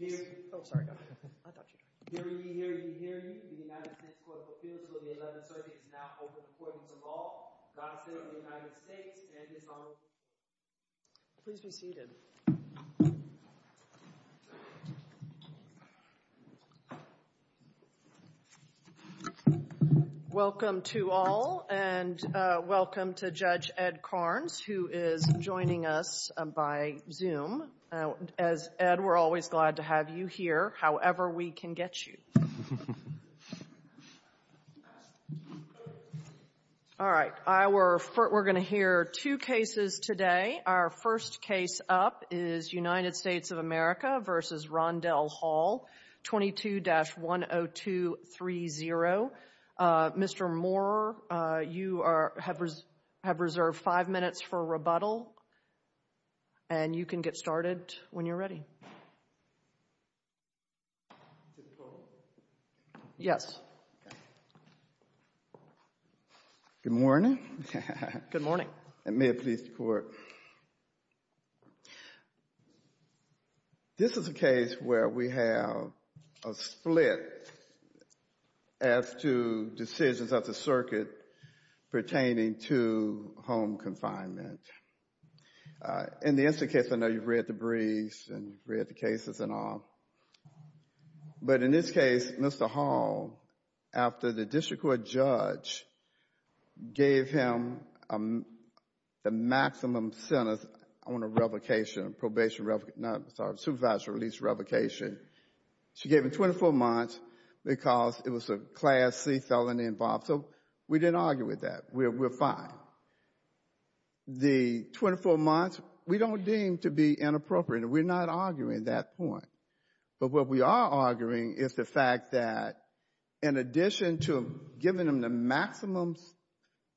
The United States Court of Appeals for the 11th Circuit is now open to the Court of Law. Rondell Hall, God save the United States and His Honor. Please be seated. Welcome to all, and welcome to Judge Ed Karnes, who is joining us by Zoom. As Ed, we're always glad to have you here, however we can get you. All right, we're going to hear two cases today. Our first case up is United States of America v. Rondell Hall, 22-10230. Mr. Moore, you have reserved five minutes for rebuttal, and you can get started when you're ready. Mr. Moore? Yes. Good morning. Good morning. May it please the Court. This is a case where we have a split as to decisions of the circuit pertaining to home confinement. In the incident case, I know you've read the briefs and you've read the cases and all, but in this case, Mr. Hall, after the district court judge gave him the maximum sentence on a revocation, a probation revocation, not, sorry, a supervisory release revocation, she gave him 24 months because it was a Class C felony involved. So we didn't argue with that. We're fine. The 24 months, we don't deem to be inappropriate. We're not arguing that point. But what we are arguing is the fact that in addition to giving him the maximum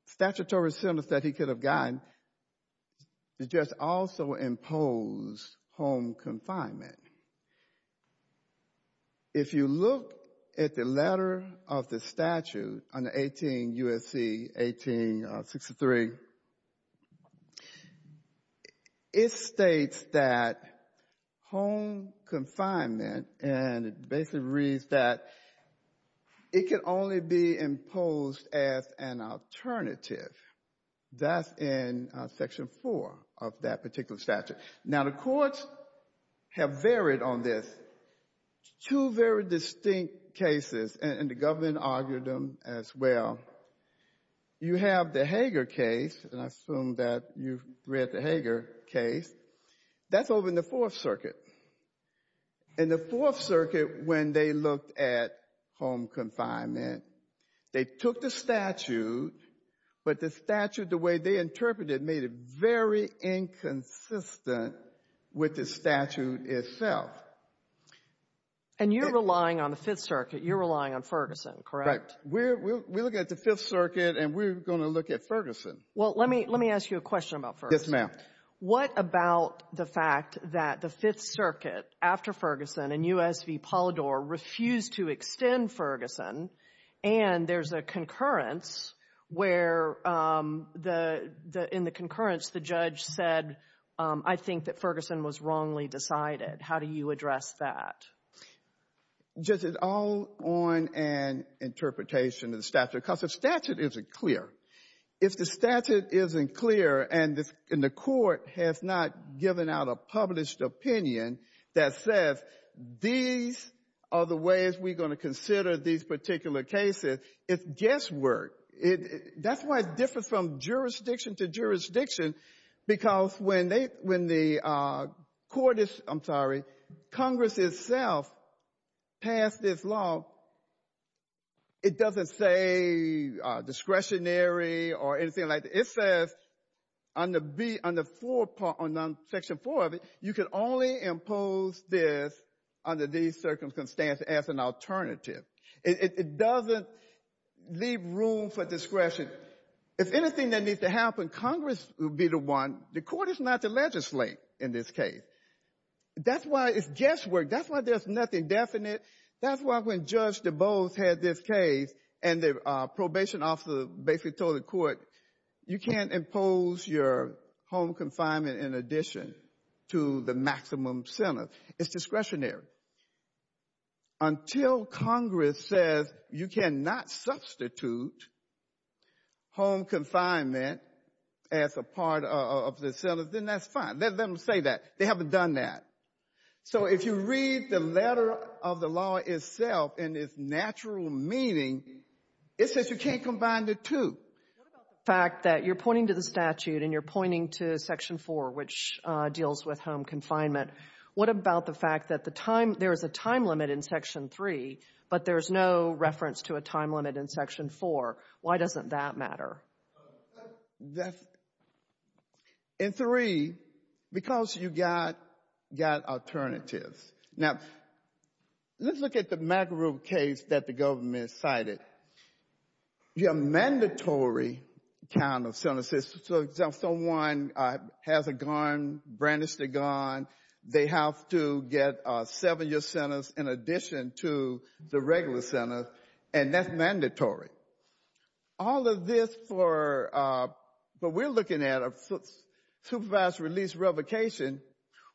statutory sentence that he could have gotten, the judge also imposed home confinement. If you look at the letter of the statute under 18 U.S.C. 1863, it states that home confinement, and it basically reads that it can only be imposed as an alternative. That's in Section 4 of that particular statute. Now, the courts have varied on this. Two very distinct cases, and the government argued them as well. You have the Hager case, and I assume that you've read the Hager case. That's over in the Fourth Circuit. In the Fourth Circuit, when they looked at home confinement, they took the statute, but the statute, the way they interpreted it, made it very inconsistent with the statute itself. And you're relying on the Fifth Circuit. You're relying on Ferguson, correct? Right. We're looking at the Fifth Circuit, and we're going to look at Ferguson. Well, let me ask you a question about Ferguson. Yes, ma'am. What about the fact that the Fifth Circuit, after Ferguson, and U.S.V. where, in the concurrence, the judge said, I think that Ferguson was wrongly decided. How do you address that? Just it's all on an interpretation of the statute, because the statute isn't clear. If the statute isn't clear, and the court has not given out a published opinion that says, these are the ways we're going to consider these particular cases, it's guesswork. That's why it's different from jurisdiction to jurisdiction, because when the court is, I'm sorry, Congress itself passed this law, it doesn't say discretionary or anything like that. It says under Section 4 of it, you can only impose this under these circumstances as an alternative. It doesn't leave room for discretion. If anything that needs to happen, Congress will be the one. The court is not the legislator in this case. That's why it's guesswork. That's why there's nothing definite. That's why when Judge DuBose had this case, and the probation officer basically told the court, you can't impose your home confinement in addition to the maximum sentence. It's discretionary. Until Congress says you cannot substitute home confinement as a part of the sentence, then that's fine. Let them say that. They haven't done that. So if you read the letter of the law itself and its natural meaning, it says you can't combine the two. What about the fact that you're pointing to the statute and you're pointing to Section 4, which deals with home confinement, what about the fact that there is a time limit in Section 3, but there's no reference to a time limit in Section 4? Why doesn't that matter? In 3, because you got alternatives. Now, let's look at the McGrew case that the government cited. Your mandatory count of sentences, so if someone has a gun, brandished a gun, they have to get a seven-year sentence in addition to the regular sentence, and that's mandatory. All of this for what we're looking at, a supervised release revocation,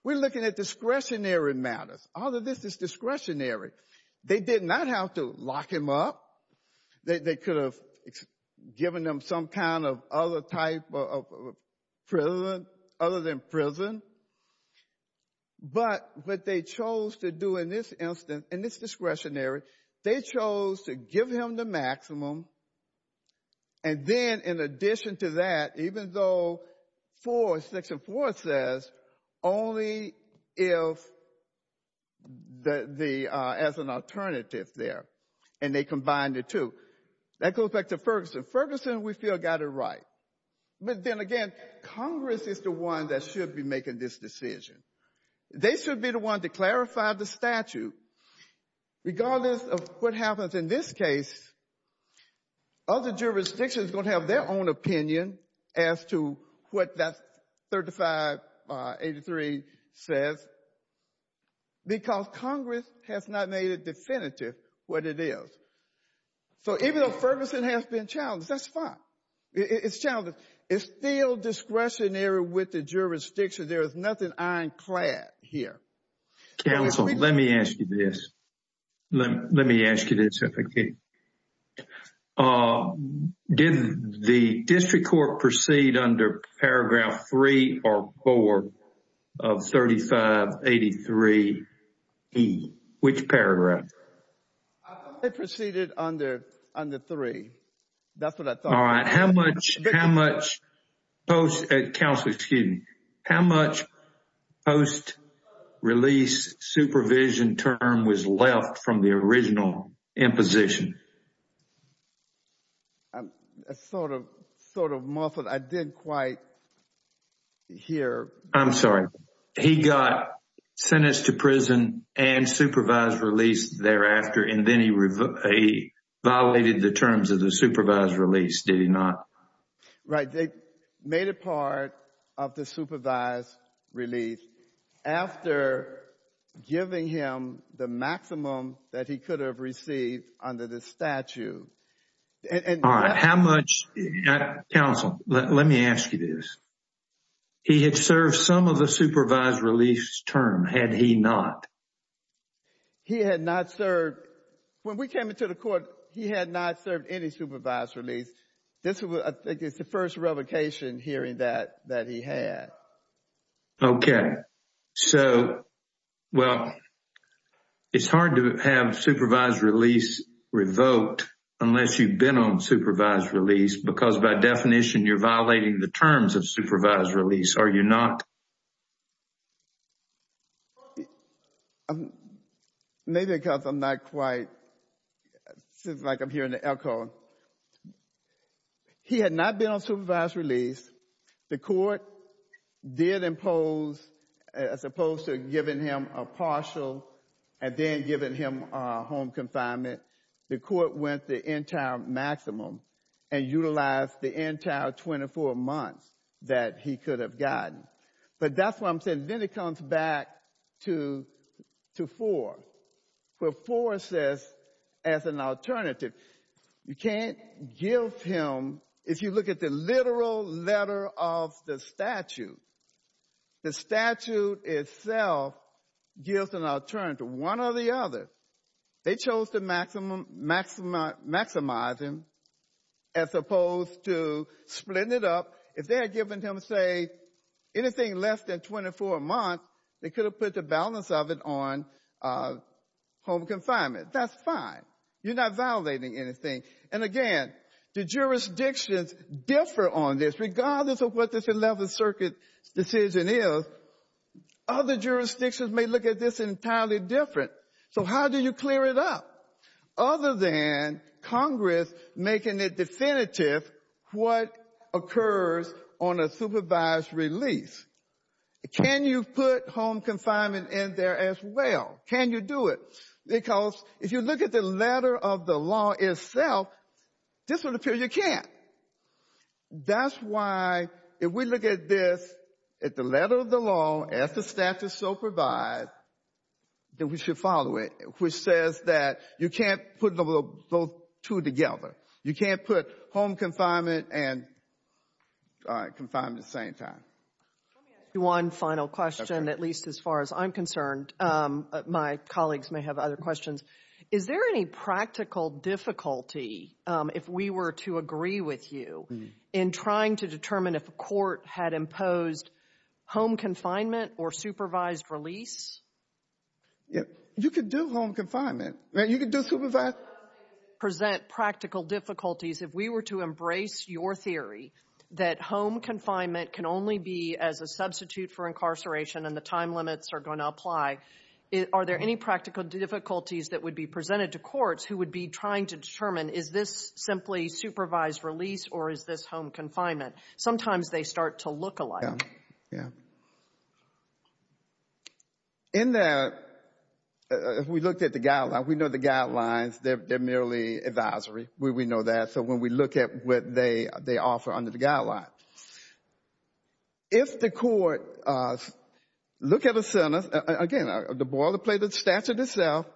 we're looking at discretionary matters. All of this is discretionary. They did not have to lock him up. They could have given him some kind of other type of prison other than prison. But what they chose to do in this instance, in this discretionary, they chose to give him the maximum, and then in addition to that, even though Section 4 says only if the as an alternative there, and they combined the two. That goes back to Ferguson. Ferguson, we feel, got it right. But then again, Congress is the one that should be making this decision. They should be the one to clarify the statute. Regardless of what happens in this case, other jurisdictions will have their own opinion as to what that 3583 says, because Congress has not made it definitive what it is. So even though Ferguson has been challenged, that's fine. It's challenged. It's still discretionary with the jurisdiction. There is nothing ironclad here. Counsel, let me ask you this. Let me ask you this if I can. Did the district court proceed under paragraph 3 or 4 of 3583E? Which paragraph? It proceeded under 3. That's what I thought. All right. How much post release supervision term was left from the original imposition? Sort of muffled. I didn't quite hear. I'm sorry. He got sentenced to prison and supervised release thereafter, and then he violated the terms of the supervised release, did he not? Right. They made it part of the supervised release after giving him the maximum that he could have received under the statute. All right. Counsel, let me ask you this. He had served some of the supervised release term, had he not? He had not served. When we came into the court, he had not served any supervised release. This is the first revocation hearing that he had. Okay. All right. So, well, it's hard to have supervised release revoked unless you've been on supervised release, because by definition, you're violating the terms of supervised release, are you not? Maybe because I'm not quite, like I'm hearing the echo. He had not been on supervised release. The court did impose, as opposed to giving him a partial and then giving him home confinement, the court went the entire maximum and utilized the entire 24 months that he could have gotten. But that's what I'm saying. And then it comes back to 4, where 4 says as an alternative. You can't give him, if you look at the literal letter of the statute, the statute itself gives an alternative, one or the other. They chose to maximize him as opposed to splitting it up. If they had given him, say, anything less than 24 months, they could have put the balance of it on home confinement. That's fine. You're not violating anything. And, again, the jurisdictions differ on this, regardless of what this 11th Circuit decision is. Other jurisdictions may look at this entirely different. So how do you clear it up? Other than Congress making it definitive what occurs on a supervised release. Can you put home confinement in there as well? Can you do it? Because if you look at the letter of the law itself, this would appear you can't. That's why, if we look at this, at the letter of the law, as the statute so provides, then we should follow it, which says that you can't put those two together. You can't put home confinement and confinement at the same time. Let me ask you one final question, at least as far as I'm concerned. My colleagues may have other questions. Is there any practical difficulty, if we were to agree with you, in trying to determine if a court had imposed home confinement or supervised release? You could do home confinement. You could do supervised. Does it present practical difficulties, if we were to embrace your theory, that home confinement can only be as a substitute for incarceration and the time limits are going to apply? Are there any practical difficulties that would be presented to courts who would be trying to determine, is this simply supervised release or is this home confinement? Sometimes they start to look alike. Yeah. In that, if we looked at the guidelines, we know the guidelines, they're merely advisory. We know that. So when we look at what they offer under the guidelines. If the court look at a sentence, again, the ball will play the statute itself,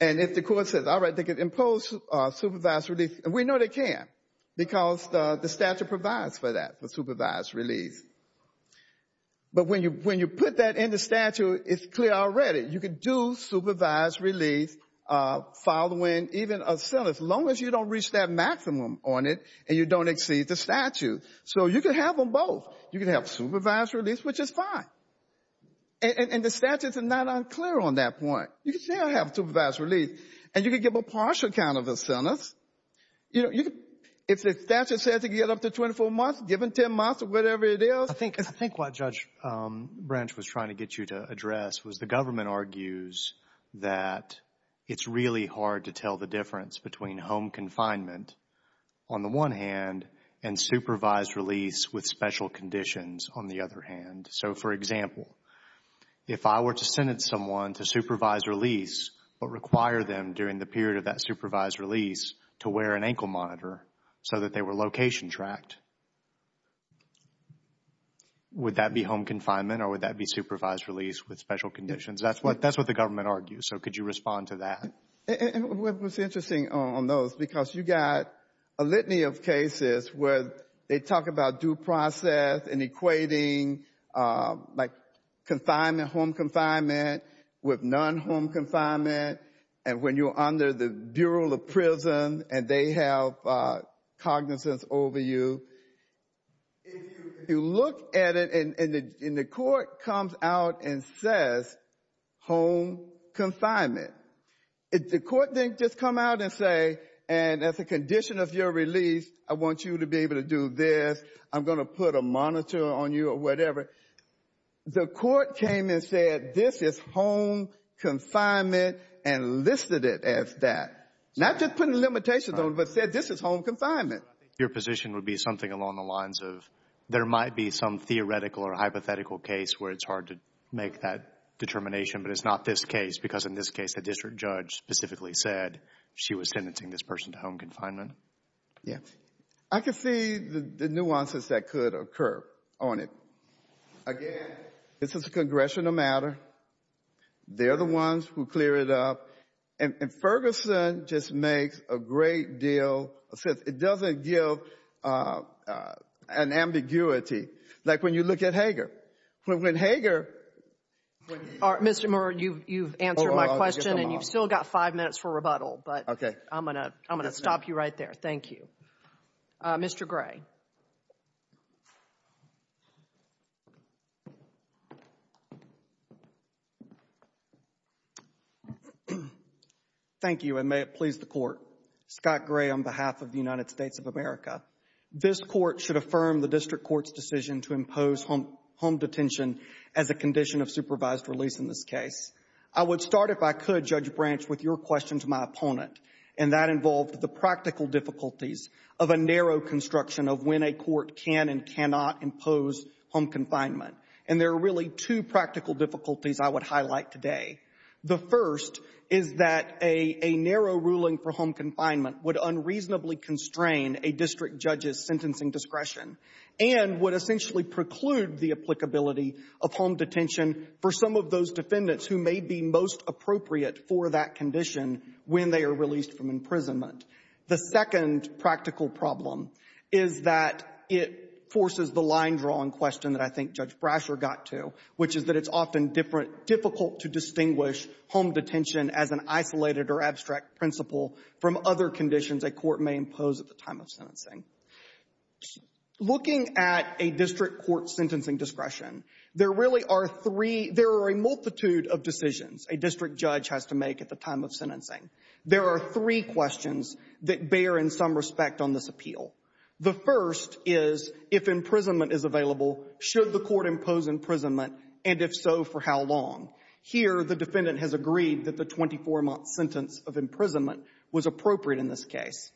and if the court says, all right, they can impose supervised release, we know they can't because the statute provides for that, for supervised release. But when you put that in the statute, it's clear already. You can do supervised release following even a sentence, as long as you don't reach that maximum on it and you don't exceed the statute. So you can have them both. You can have supervised release, which is fine. And the statutes are not unclear on that point. You can still have supervised release, and you can give a partial count of the sentence. If the statute says you can get up to 24 months, give them 10 months or whatever it is. I think what Judge Branch was trying to get you to address was the government argues that it's really hard to tell the difference between home confinement, on the one hand, and supervised release with special conditions, on the other hand. So, for example, if I were to sentence someone to supervised release, but require them during the period of that supervised release to wear an ankle monitor so that they were location tracked, would that be home confinement or would that be supervised release with special conditions? That's what the government argues, so could you respond to that? And what was interesting on those, because you got a litany of cases where they talk about due process and equating, like, confinement, home confinement, with non-home confinement, and when you're under the Bureau of Prisons and they have cognizance over you. If you look at it and the court comes out and says home confinement, the court didn't just come out and say, and as a condition of your release, I want you to be able to do this, I'm going to put a monitor on you or whatever. The court came and said this is home confinement and listed it as that. Not just putting limitations on it, but said this is home confinement. Your position would be something along the lines of there might be some theoretical or hypothetical case where it's hard to make that determination, but it's not this case because in this case the district judge specifically said she was sentencing this person to home confinement. I could see the nuances that could occur on it. Again, this is a congressional matter. They're the ones who clear it up, and Ferguson just makes a great deal of sense. It doesn't give an ambiguity. Like when you look at Hager. Mr. Moore, you've answered my question and you've still got five minutes for rebuttal, but I'm going to stop you right there. Thank you. Mr. Gray. Thank you, and may it please the Court. Scott Gray on behalf of the United States of America. This court should affirm the district court's decision to impose home detention as a condition of supervised release in this case. I would start, if I could, Judge Branch, with your question to my opponent, and that involved the practical difficulties of a narrow construction of when a court can and cannot impose home confinement. And there are really two practical difficulties I would highlight today. The first is that a narrow ruling for home confinement would unreasonably constrain a district judge's sentencing discretion and would essentially preclude the applicability of home detention for some of those defendants who may be most appropriate for that condition when they are released from imprisonment. The second practical problem is that it forces the line-drawing question that I think Judge Brasher got to, which is that it's often difficult to distinguish home detention as an isolated or abstract principle from other conditions a court may impose at the time of sentencing. Looking at a district court's sentencing discretion, there really are three — there are a multitude of decisions a district judge has to make at the time of sentencing. There are three questions that bear in some respect on this appeal. The first is, if imprisonment is available, should the court impose imprisonment, and if so, for how long? Here, the defendant has agreed that the 24-month sentence of imprisonment was appropriate in this case.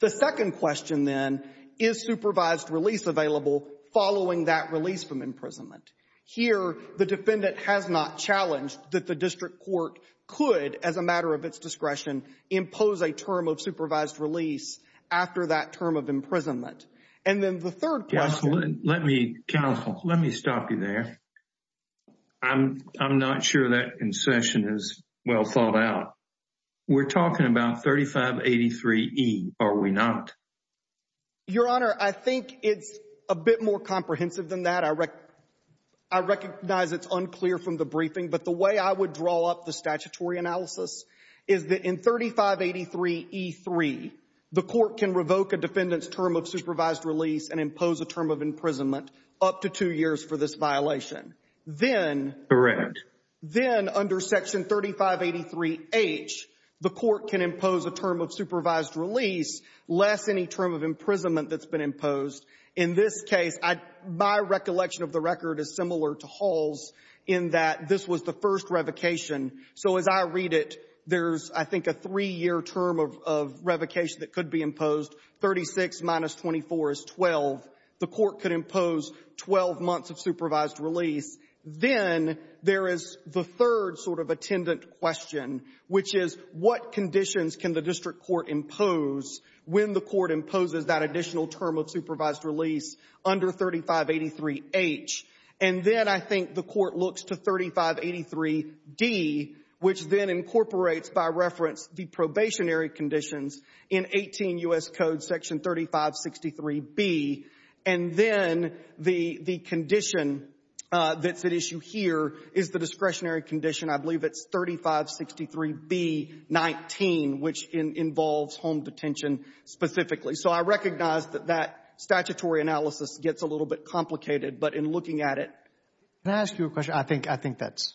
The second question, then, is supervised release available following that release from imprisonment? Here, the defendant has not challenged that the district court could, as a matter of its discretion, impose a term of supervised release after that term of imprisonment. And then the third question — Counsel, let me stop you there. I'm not sure that concession is well thought out. We're talking about 3583E, are we not? Your Honor, I think it's a bit more comprehensive than that. I recognize it's unclear from the briefing, but the way I would draw up the statutory analysis is that in 3583E3, the court can revoke a defendant's term of supervised release and impose a term of imprisonment up to two years for this violation. Then — Correct. Then, under Section 3583H, the court can impose a term of supervised release, less any term of imprisonment that's been imposed. In this case, my recollection of the record is similar to Hall's in that this was the first revocation. So as I read it, there's, I think, a three-year term of revocation that could be imposed. 36 minus 24 is 12. The court could impose 12 months of supervised release. Then there is the third sort of attendant question, which is, what conditions can the district court impose when the court imposes that additional term of supervised release under 3583H? And then I think the court looks to 3583D, which then incorporates, by reference, the probationary conditions in 18 U.S. Code Section 3563B. And then the condition that's at issue here is the discretionary condition, I believe it's 3563B-19, which involves home detention specifically. So I recognize that that statutory analysis gets a little bit complicated. But in looking at it, Can I ask you a question? I think that's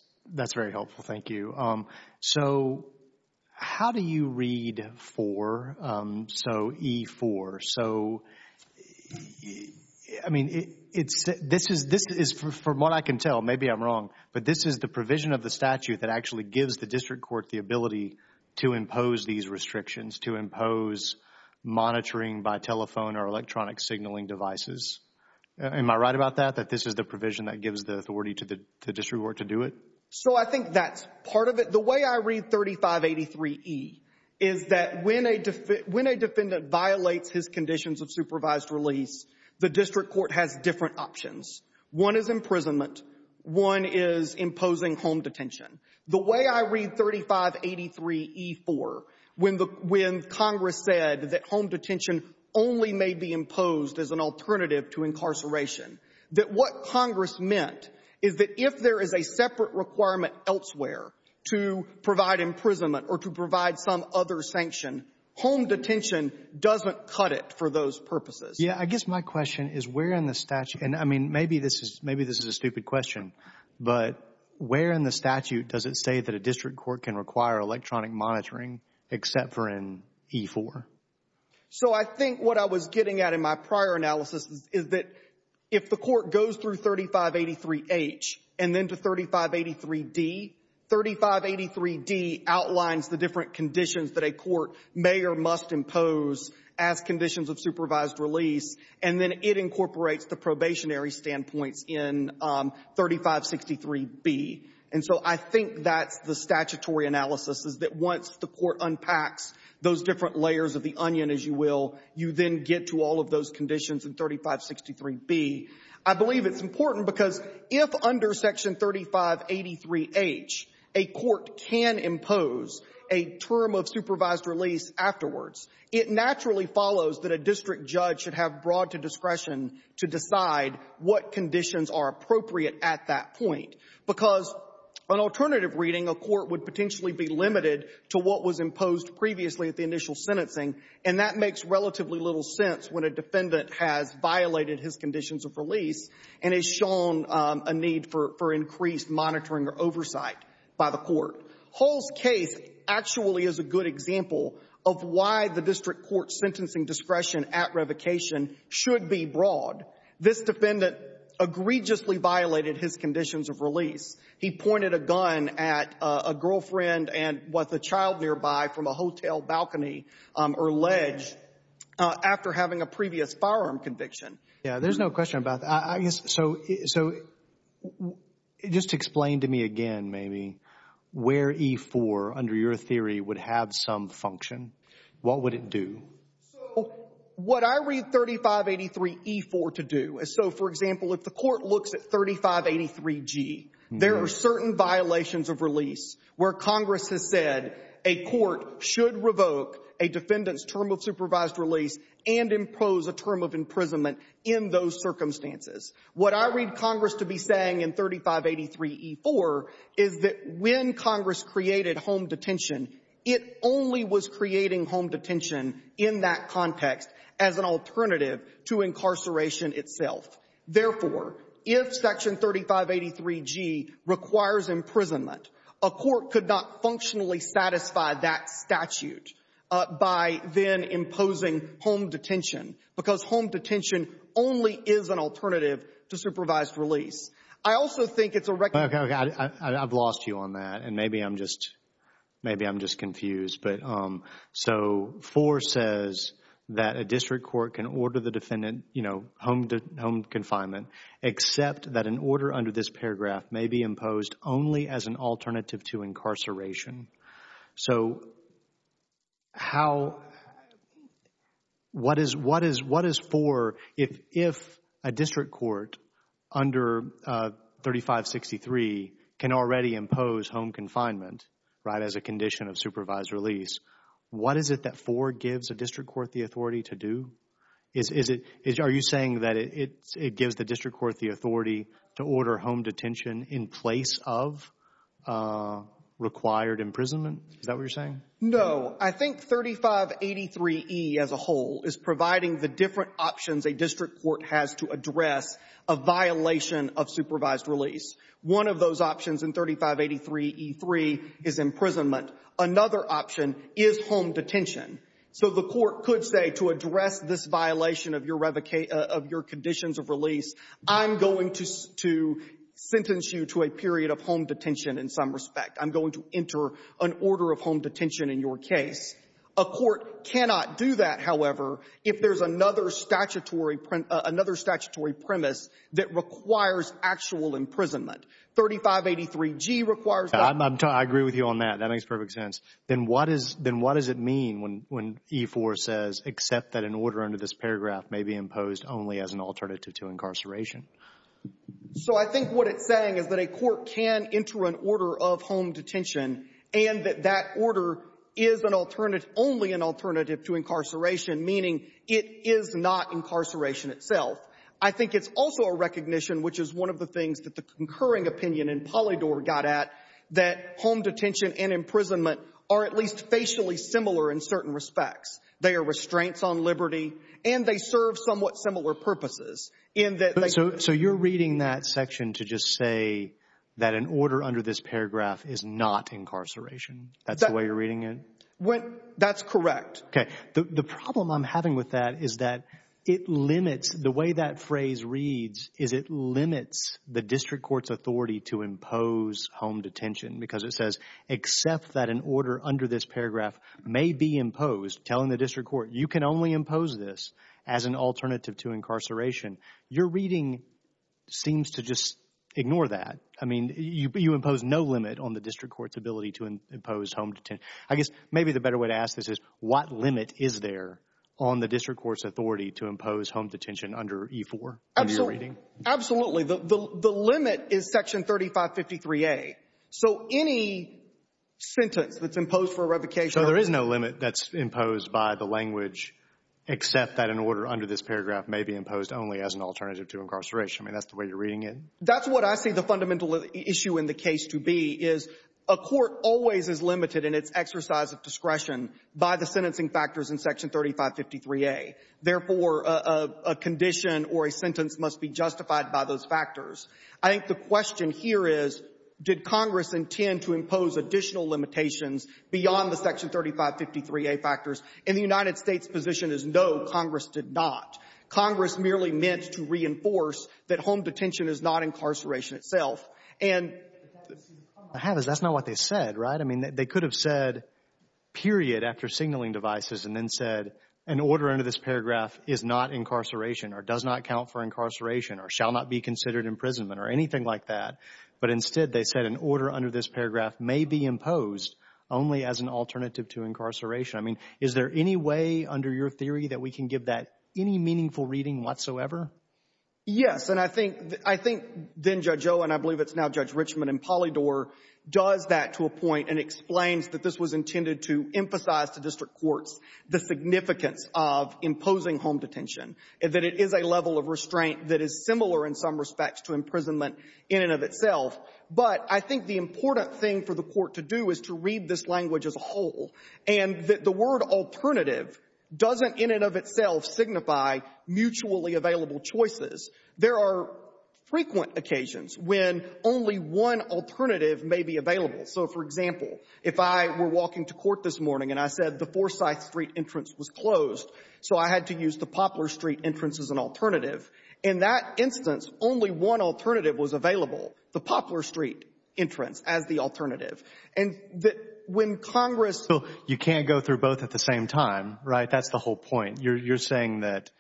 very helpful. Thank you. So how do you read 4, so E4? So, I mean, this is, from what I can tell, maybe I'm wrong, but this is the provision of the statute that actually gives the district court the ability to impose these restrictions, to impose monitoring by telephone or electronic signaling devices. Am I right about that, that this is the provision that gives the authority to the district court to do it? So I think that's part of it. The way I read 3583E is that when a defendant violates his conditions of supervised release, the district court has different options. One is imprisonment. One is imposing home detention. The way I read 3583E4, when Congress said that home detention only may be imposed as an alternative to incarceration, that what Congress meant is that if there is a separate requirement elsewhere to provide imprisonment or to provide some other sanction, home detention doesn't cut it for those purposes. Yeah, I guess my question is where in the statute, and I mean, maybe this is a stupid question, but where in the statute does it say that a district court can require electronic monitoring except for in E4? So I think what I was getting at in my prior analysis is that if the court goes through 3583H and then to 3583D, 3583D outlines the different conditions that a court may or must impose as conditions of supervised release, and then it incorporates the probationary standpoints in 3563B. And so I think that's the statutory analysis is that once the court unpacks those different layers of the onion, as you will, you then get to all of those conditions in 3563B. I believe it's important because if under Section 3583H a court can impose a term of supervised release afterwards, it naturally follows that a district judge should have broad discretion to decide what conditions are appropriate at that point. Because on alternative reading, a court would potentially be limited to what was imposed previously at the initial sentencing, and that makes relatively little sense when a defendant has violated his conditions of release and has shown a need for increased monitoring or oversight by the court. Hull's case actually is a good example of why the district court's sentencing discretion at revocation should be broad. This defendant egregiously violated his conditions of release. He pointed a gun at a girlfriend and was a child nearby from a hotel balcony or ledge after having a previous firearm conviction. Yeah, there's no question about that. So just explain to me again, maybe, where E-4, under your theory, would have some function. What would it do? So what I read 3583E-4 to do is so, for example, if the court looks at 3583G, there are certain violations of release where Congress has said a court should revoke a defendant's term of supervised release and impose a term of imprisonment in those circumstances. What I read Congress to be saying in 3583E-4 is that when Congress created home detention in that context as an alternative to incarceration itself. Therefore, if Section 3583G requires imprisonment, a court could not functionally satisfy that statute by then imposing home detention because home detention only is an alternative to supervised release. I also think it's a record of the statute. Okay. I've lost you on that, and maybe I'm just confused. So 4 says that a district court can order the defendant home confinement, except that an order under this paragraph may be imposed only as an alternative to incarceration. So what is 4 if a district court under 3563 can already impose home confinement, right, as a condition of supervised release? What is it that 4 gives a district court the authority to do? Are you saying that it gives the district court the authority to order home detention in place of required imprisonment? Is that what you're saying? No. I think 3583E as a whole is providing the different options a district court has to address a violation of supervised release. One of those options in 3583E3 is imprisonment. Another option is home detention. So the court could say to address this violation of your conditions of release, I'm going to sentence you to a period of home detention in some respect. I'm going to enter an order of home detention in your case. A court cannot do that, however, if there's another statutory premise that requires actual imprisonment. 3583G requires that. I agree with you on that. That makes perfect sense. Then what does it mean when E4 says, except that an order under this paragraph may be imposed only as an alternative to incarceration? So I think what it's saying is that a court can enter an order of home detention and that that order is only an alternative to incarceration, meaning it is not incarceration itself. I think it's also a recognition, which is one of the things that the concurring opinion in Polydor got at, that home detention and imprisonment are at least facially similar in certain respects. They are restraints on liberty and they serve somewhat similar purposes. So you're reading that section to just say that an order under this paragraph is not incarceration. That's the way you're reading it? That's correct. Okay. The problem I'm having with that is that it limits, the way that phrase reads is it limits the district court's authority to impose home detention because it says, except that an order under this paragraph may be imposed, telling the district court, you can only impose this as an alternative to incarceration. Your reading seems to just ignore that. I mean, you impose no limit on the district court's ability to impose home detention. I guess maybe the better way to ask this is what limit is there on the district court's authority to impose home detention under E-4 in your reading? Absolutely. The limit is section 3553A. So any sentence that's imposed for revocation. So there is no limit that's imposed by the language except that an order under this paragraph may be imposed only as an alternative to incarceration. I mean, that's the way you're reading it? That's what I see the fundamental issue in the case to be is a court always is an exercise of discretion by the sentencing factors in section 3553A. Therefore, a condition or a sentence must be justified by those factors. I think the question here is, did Congress intend to impose additional limitations beyond the section 3553A factors? And the United States' position is no, Congress did not. Congress merely meant to reinforce that home detention is not incarceration itself. And that's not what they said, right? I mean, they could have said period after signaling devices and then said an order under this paragraph is not incarceration or does not count for incarceration or shall not be considered imprisonment or anything like that. But instead, they said an order under this paragraph may be imposed only as an alternative to incarceration. I mean, is there any way under your theory that we can give that any meaningful reading whatsoever? Yes. And I think then Judge O, and I believe it's now Judge Richmond and Polydor, does that to a point and explains that this was intended to emphasize to district courts the significance of imposing home detention, that it is a level of restraint that is similar in some respects to imprisonment in and of itself. But I think the important thing for the Court to do is to read this language as a whole and that the word alternative doesn't in and of itself signify mutually available choices. There are frequent occasions when only one alternative may be available. So, for example, if I were walking to court this morning and I said the Forsyth Street entrance was closed, so I had to use the Poplar Street entrance as an alternative. In that instance, only one alternative was available, the Poplar Street entrance as the alternative. And when Congress. You can't go through both at the same time, right? That's the whole point. You're saying that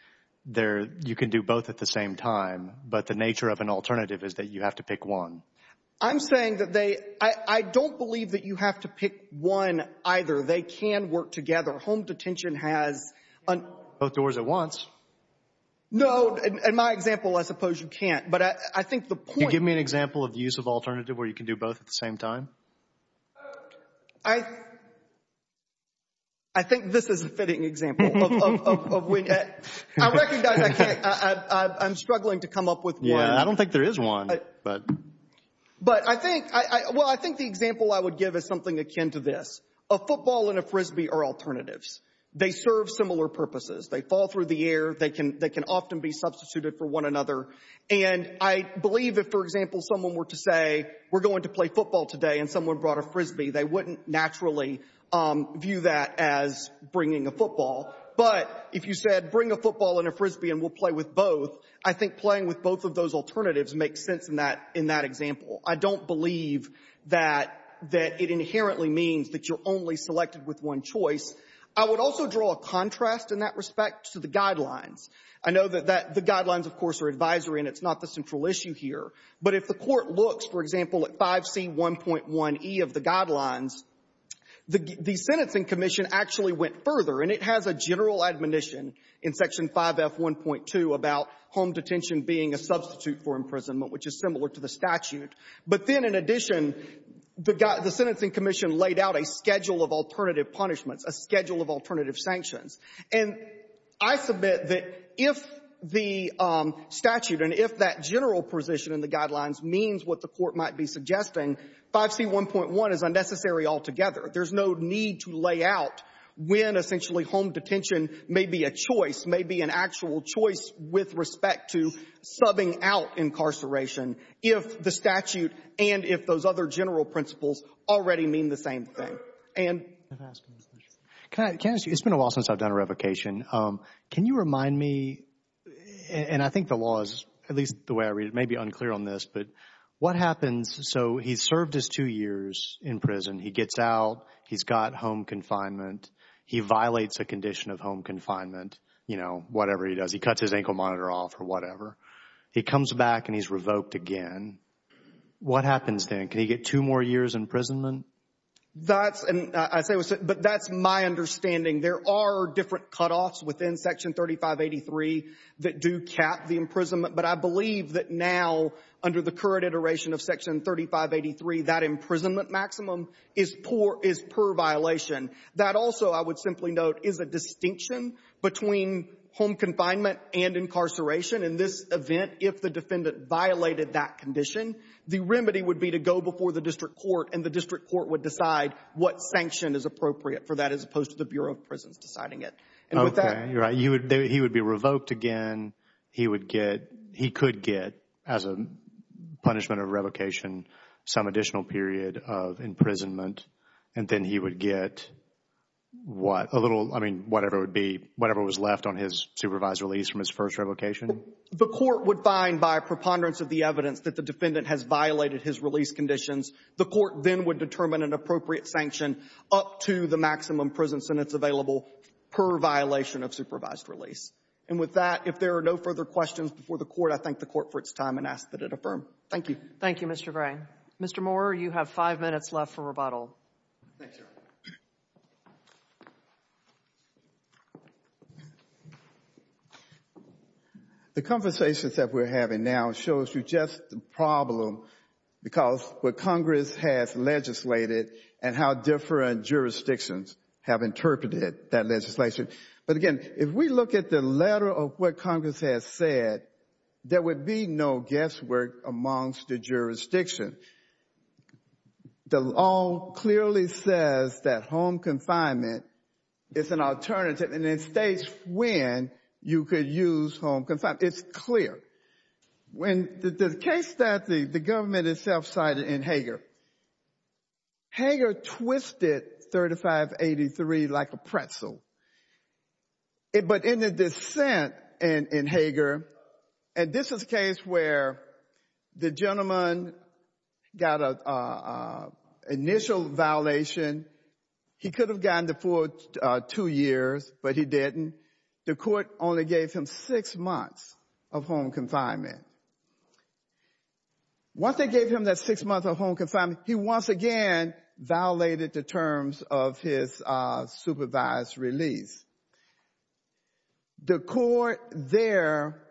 you can do both at the same time, but the nature of an alternative is that you have to pick one. I'm saying that they. I don't believe that you have to pick one either. They can work together. Home detention has. Both doors at once. No. In my example, I suppose you can't. But I think the point. Can you give me an example of the use of alternative where you can do both at the same time? I think this is a fitting example. I recognize I can't. I'm struggling to come up with one. I don't think there is one. But. But I think. Well, I think the example I would give is something akin to this. A football and a Frisbee are alternatives. They serve similar purposes. They fall through the air. They can. They can often be substituted for one another. And I believe that, for example, someone were to say, we're going to play football today and someone brought a Frisbee. They wouldn't naturally view that as bringing a football. But if you said, bring a football and a Frisbee and we'll play with both, I think playing with both of those alternatives makes sense in that example. I don't believe that it inherently means that you're only selected with one choice. I would also draw a contrast in that respect to the guidelines. I know that the guidelines, of course, are advisory and it's not the central issue here. But if the Court looks, for example, at 5C1.1e of the guidelines, the sentencing commission actually went further. And it has a general admonition in Section 5F1.2 about home detention being a substitute for imprisonment, which is similar to the statute. But then in addition, the sentencing commission laid out a schedule of alternative punishments, a schedule of alternative sanctions. And I submit that if the statute and if that general position in the guidelines means what the Court might be suggesting, 5C1.1 is unnecessary altogether. There's no need to lay out when, essentially, home detention may be a choice, may be an actual choice with respect to subbing out incarceration if the statute and if those other general principles already mean the same thing. And — Can I ask you, it's been a while since I've done a revocation. Can you remind me, and I think the law is, at least the way I read it, may be unclear on this, but what happens, so he's served his two years in prison. He gets out. He's got home confinement. He violates a condition of home confinement, you know, whatever he does. He cuts his ankle monitor off or whatever. He comes back, and he's revoked again. What happens then? Can he get two more years imprisonment? That's — but that's my understanding. There are different cutoffs within Section 3583 that do cap the imprisonment. But I believe that now, under the current iteration of Section 3583, that imprisonment maximum is per violation. That also, I would simply note, is a distinction between home confinement and incarceration. In this event, if the defendant violated that condition, the remedy would be to go before the district court, and the district court would decide what sanction is appropriate for that as opposed to the Bureau of Prisons deciding it. And with that — Okay. You're right. He would be revoked again. He would get — punishment of revocation, some additional period of imprisonment, and then he would get what? A little — I mean, whatever would be — whatever was left on his supervised release from his first revocation? The court would find, by preponderance of the evidence, that the defendant has violated his release conditions. The court then would determine an appropriate sanction up to the maximum prison sentence available per violation of supervised release. And with that, if there are no further questions before the court, I thank the court for its time and ask that it affirm. Thank you. Thank you, Mr. Gray. Mr. Moore, you have five minutes left for rebuttal. Thank you. The conversations that we're having now shows you just the problem because what Congress has legislated and how different jurisdictions have interpreted that legislation. But again, if we look at the letter of what Congress has said, there would be no guesswork amongst the jurisdictions. The law clearly says that home confinement is an alternative and it states when you could use home confinement. It's clear. In the case that the government itself cited in Hager, Hager twisted 3583 like a pretzel. But in the dissent in Hager, and this is a case where the gentleman got an initial violation. He could have gotten the full two years, but he didn't. The court only gave him six months of home confinement. Once they gave him that six months of home confinement, he once again violated the terms of his supervised release. The court there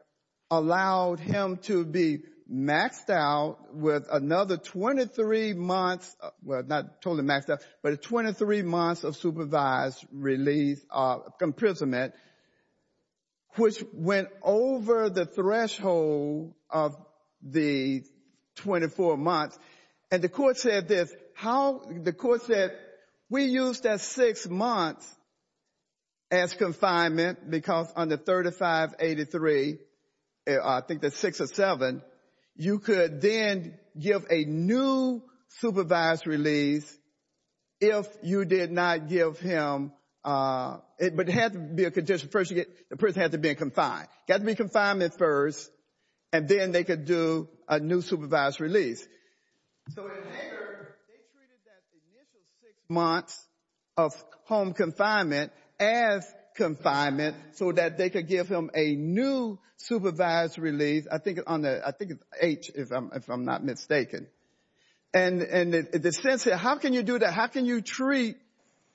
allowed him to be maxed out with another 23 months, well, not totally maxed out, but 23 months of supervised release of imprisonment, which went over the threshold of the 24 months. And the court said this, the court said we used that six months as confinement because under 3583, I think that's six or seven, you could then give a new supervised release if you did not give him, but it had to be a condition. First, the person had to be confined. It had to be confinement first, and then they could do a new supervised release. So in Hager, they treated that initial six months of home confinement as confinement so that they could give him a new supervised release, I think it's H if I'm not mistaken. And the sense here, how can you do that? How can you treat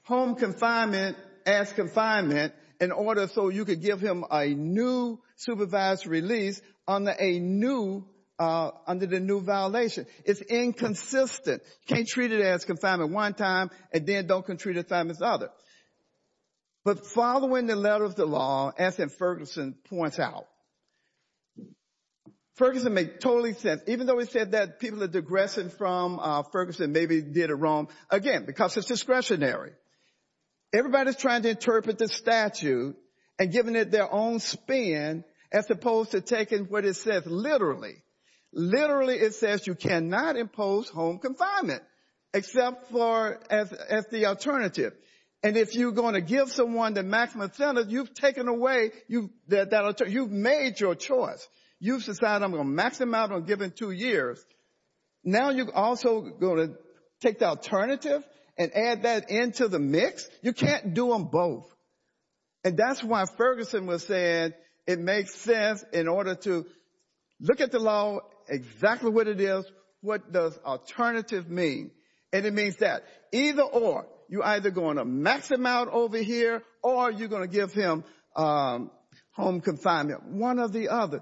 home confinement as confinement in order so you could give him a new supervised release under the new violation? It's inconsistent. You can't treat it as confinement one time and then don't treat it as confinement the other. But following the letter of the law, as Ferguson points out, Ferguson made totally sense, even though he said that people are digressing from Ferguson maybe did it wrong, again, because it's discretionary. Everybody's trying to interpret the statute and giving it their own spin as opposed to taking what it says literally. Literally, it says you cannot impose home confinement except as the alternative. And if you're going to give someone the maximum sentence, you've taken away that alternative. You've made your choice. You've decided I'm going to maximize on giving two years. Now you're also going to take the alternative and add that into the mix? You can't do them both. And that's why Ferguson was saying it makes sense in order to look at the law, exactly what it is, what does alternative mean? And it means that either or, you're either going to max him out over here or you're going to give him home confinement, one or the other.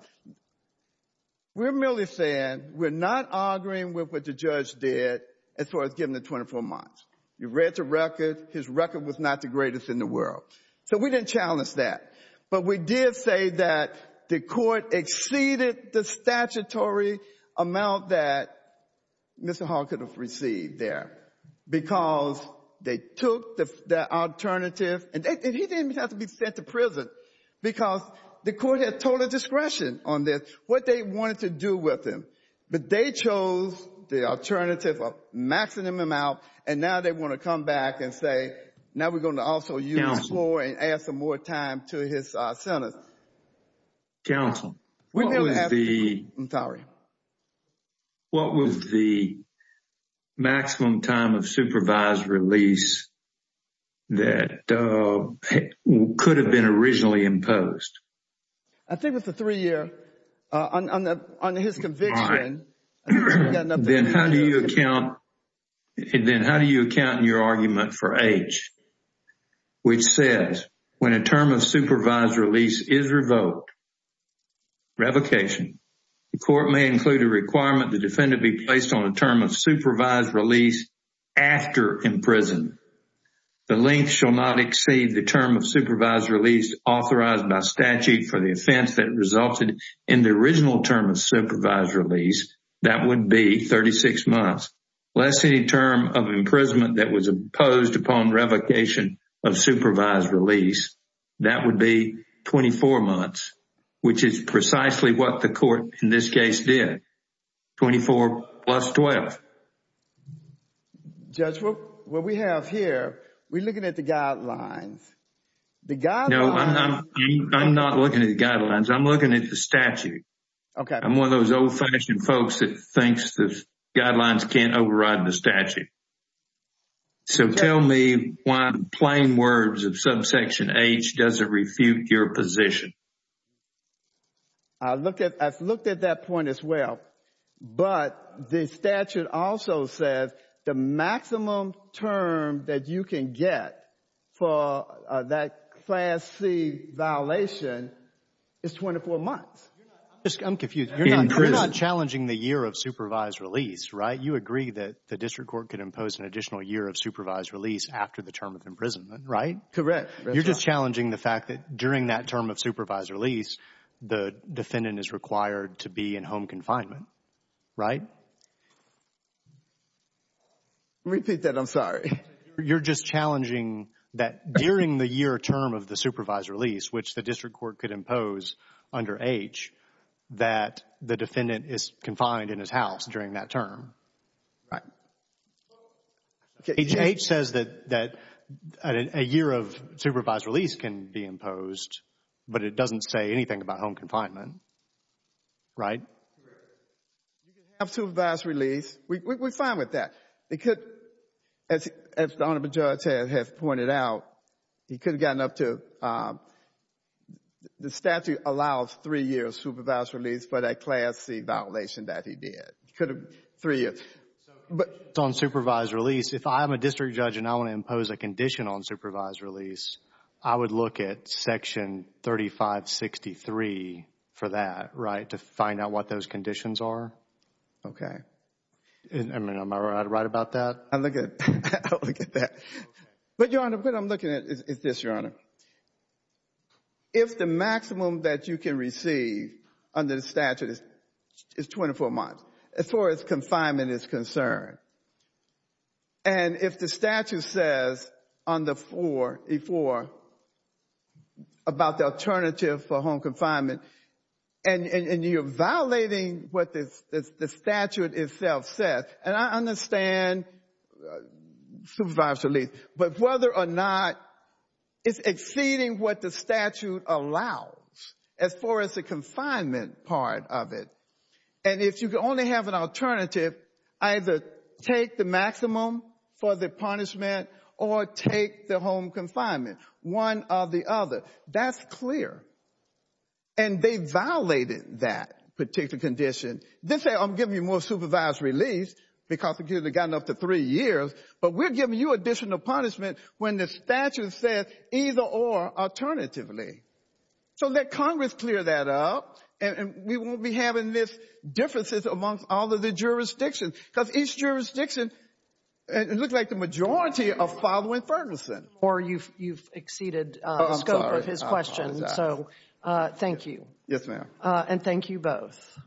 We're merely saying we're not arguing with what the judge did as far as giving him 24 months. You read the record. His record was not the greatest in the world. So we didn't challenge that. But we did say that the court exceeded the statutory amount that Mr. Hall could have received there because they took the alternative. And he didn't even have to be sent to prison because the court had total discretion on this, what they wanted to do with him. But they chose the alternative of maxing him out and now they want to come back and say, now we're going to also use floor and add some more time to his sentence. Counsel, what was the maximum time of supervised release that could have been originally imposed? I think it was the three year on his conviction. Then how do you account in your argument for H which says when a term of supervised release is revoked, revocation, the court may include a requirement the defendant be placed on a term of supervised release after imprisonment. The length shall not exceed the term of supervised release authorized by statute for the offense that resulted in the original term of supervised release. That would be 36 months. Less any term of imprisonment that was imposed upon revocation of supervised release, that would be 24 months, which is precisely what the court in this case did, 24 plus 12. Judge, what we have here, we're looking at the guidelines. No, I'm not looking at the guidelines. I'm looking at the statute. I'm one of those old-fashioned folks that thinks the guidelines can't override the statute. So tell me why in plain words of subsection H, does it refute your position? I've looked at that point as well, but the statute also says the maximum term that you can get for that Class C violation is 24 months. I'm confused. You're not challenging the year of supervised release, right? You agree that the district court could impose an additional year of supervised release after the term of imprisonment, right? Correct. You're just challenging the fact that during that term of supervised release, the defendant is required to be in home confinement, right? Repeat that. I'm sorry. You're just challenging that during the year term of the supervised release, which the district court could impose under H, that the defendant is confined in his house during that term. Right. H says that a year of supervised release can be imposed, but it doesn't say anything about home confinement, right? Correct. You can have supervised release. We're fine with that. It could, as the Honorable Judge has pointed out, he could have gotten up to, the statute allows three years of supervised release for that Class C violation that he did. He could have three years. But on supervised release, if I'm a district judge and I want to impose a condition on supervised release, I would look at Section 3563 for that, right, to find out what those conditions are? Okay. Am I right about that? I look at that. But, Your Honor, what I'm looking at is this, Your Honor. If the maximum that you can receive under the statute is 24 months, as far as confinement is concerned, and if the statute says on the floor about the alternative for home confinement, and you're violating what the statute itself says, and I understand supervised release, but whether or not it's exceeding what the statute allows as far as the confinement part of it, and if you can only have an alternative, either take the maximum for the punishment or take the home confinement, one or the other. That's clear. And they violated that particular condition. They say, I'm giving you more supervised release because we've gotten up to three years, but we're giving you additional punishment when the statute says either or alternatively. So let Congress clear that up, and we won't be having these differences amongst all of the jurisdictions, because each jurisdiction looks like the majority are following Ferguson. Or you've exceeded the scope of his question. I'm sorry. Thank you. Yes, ma'am. And thank you both.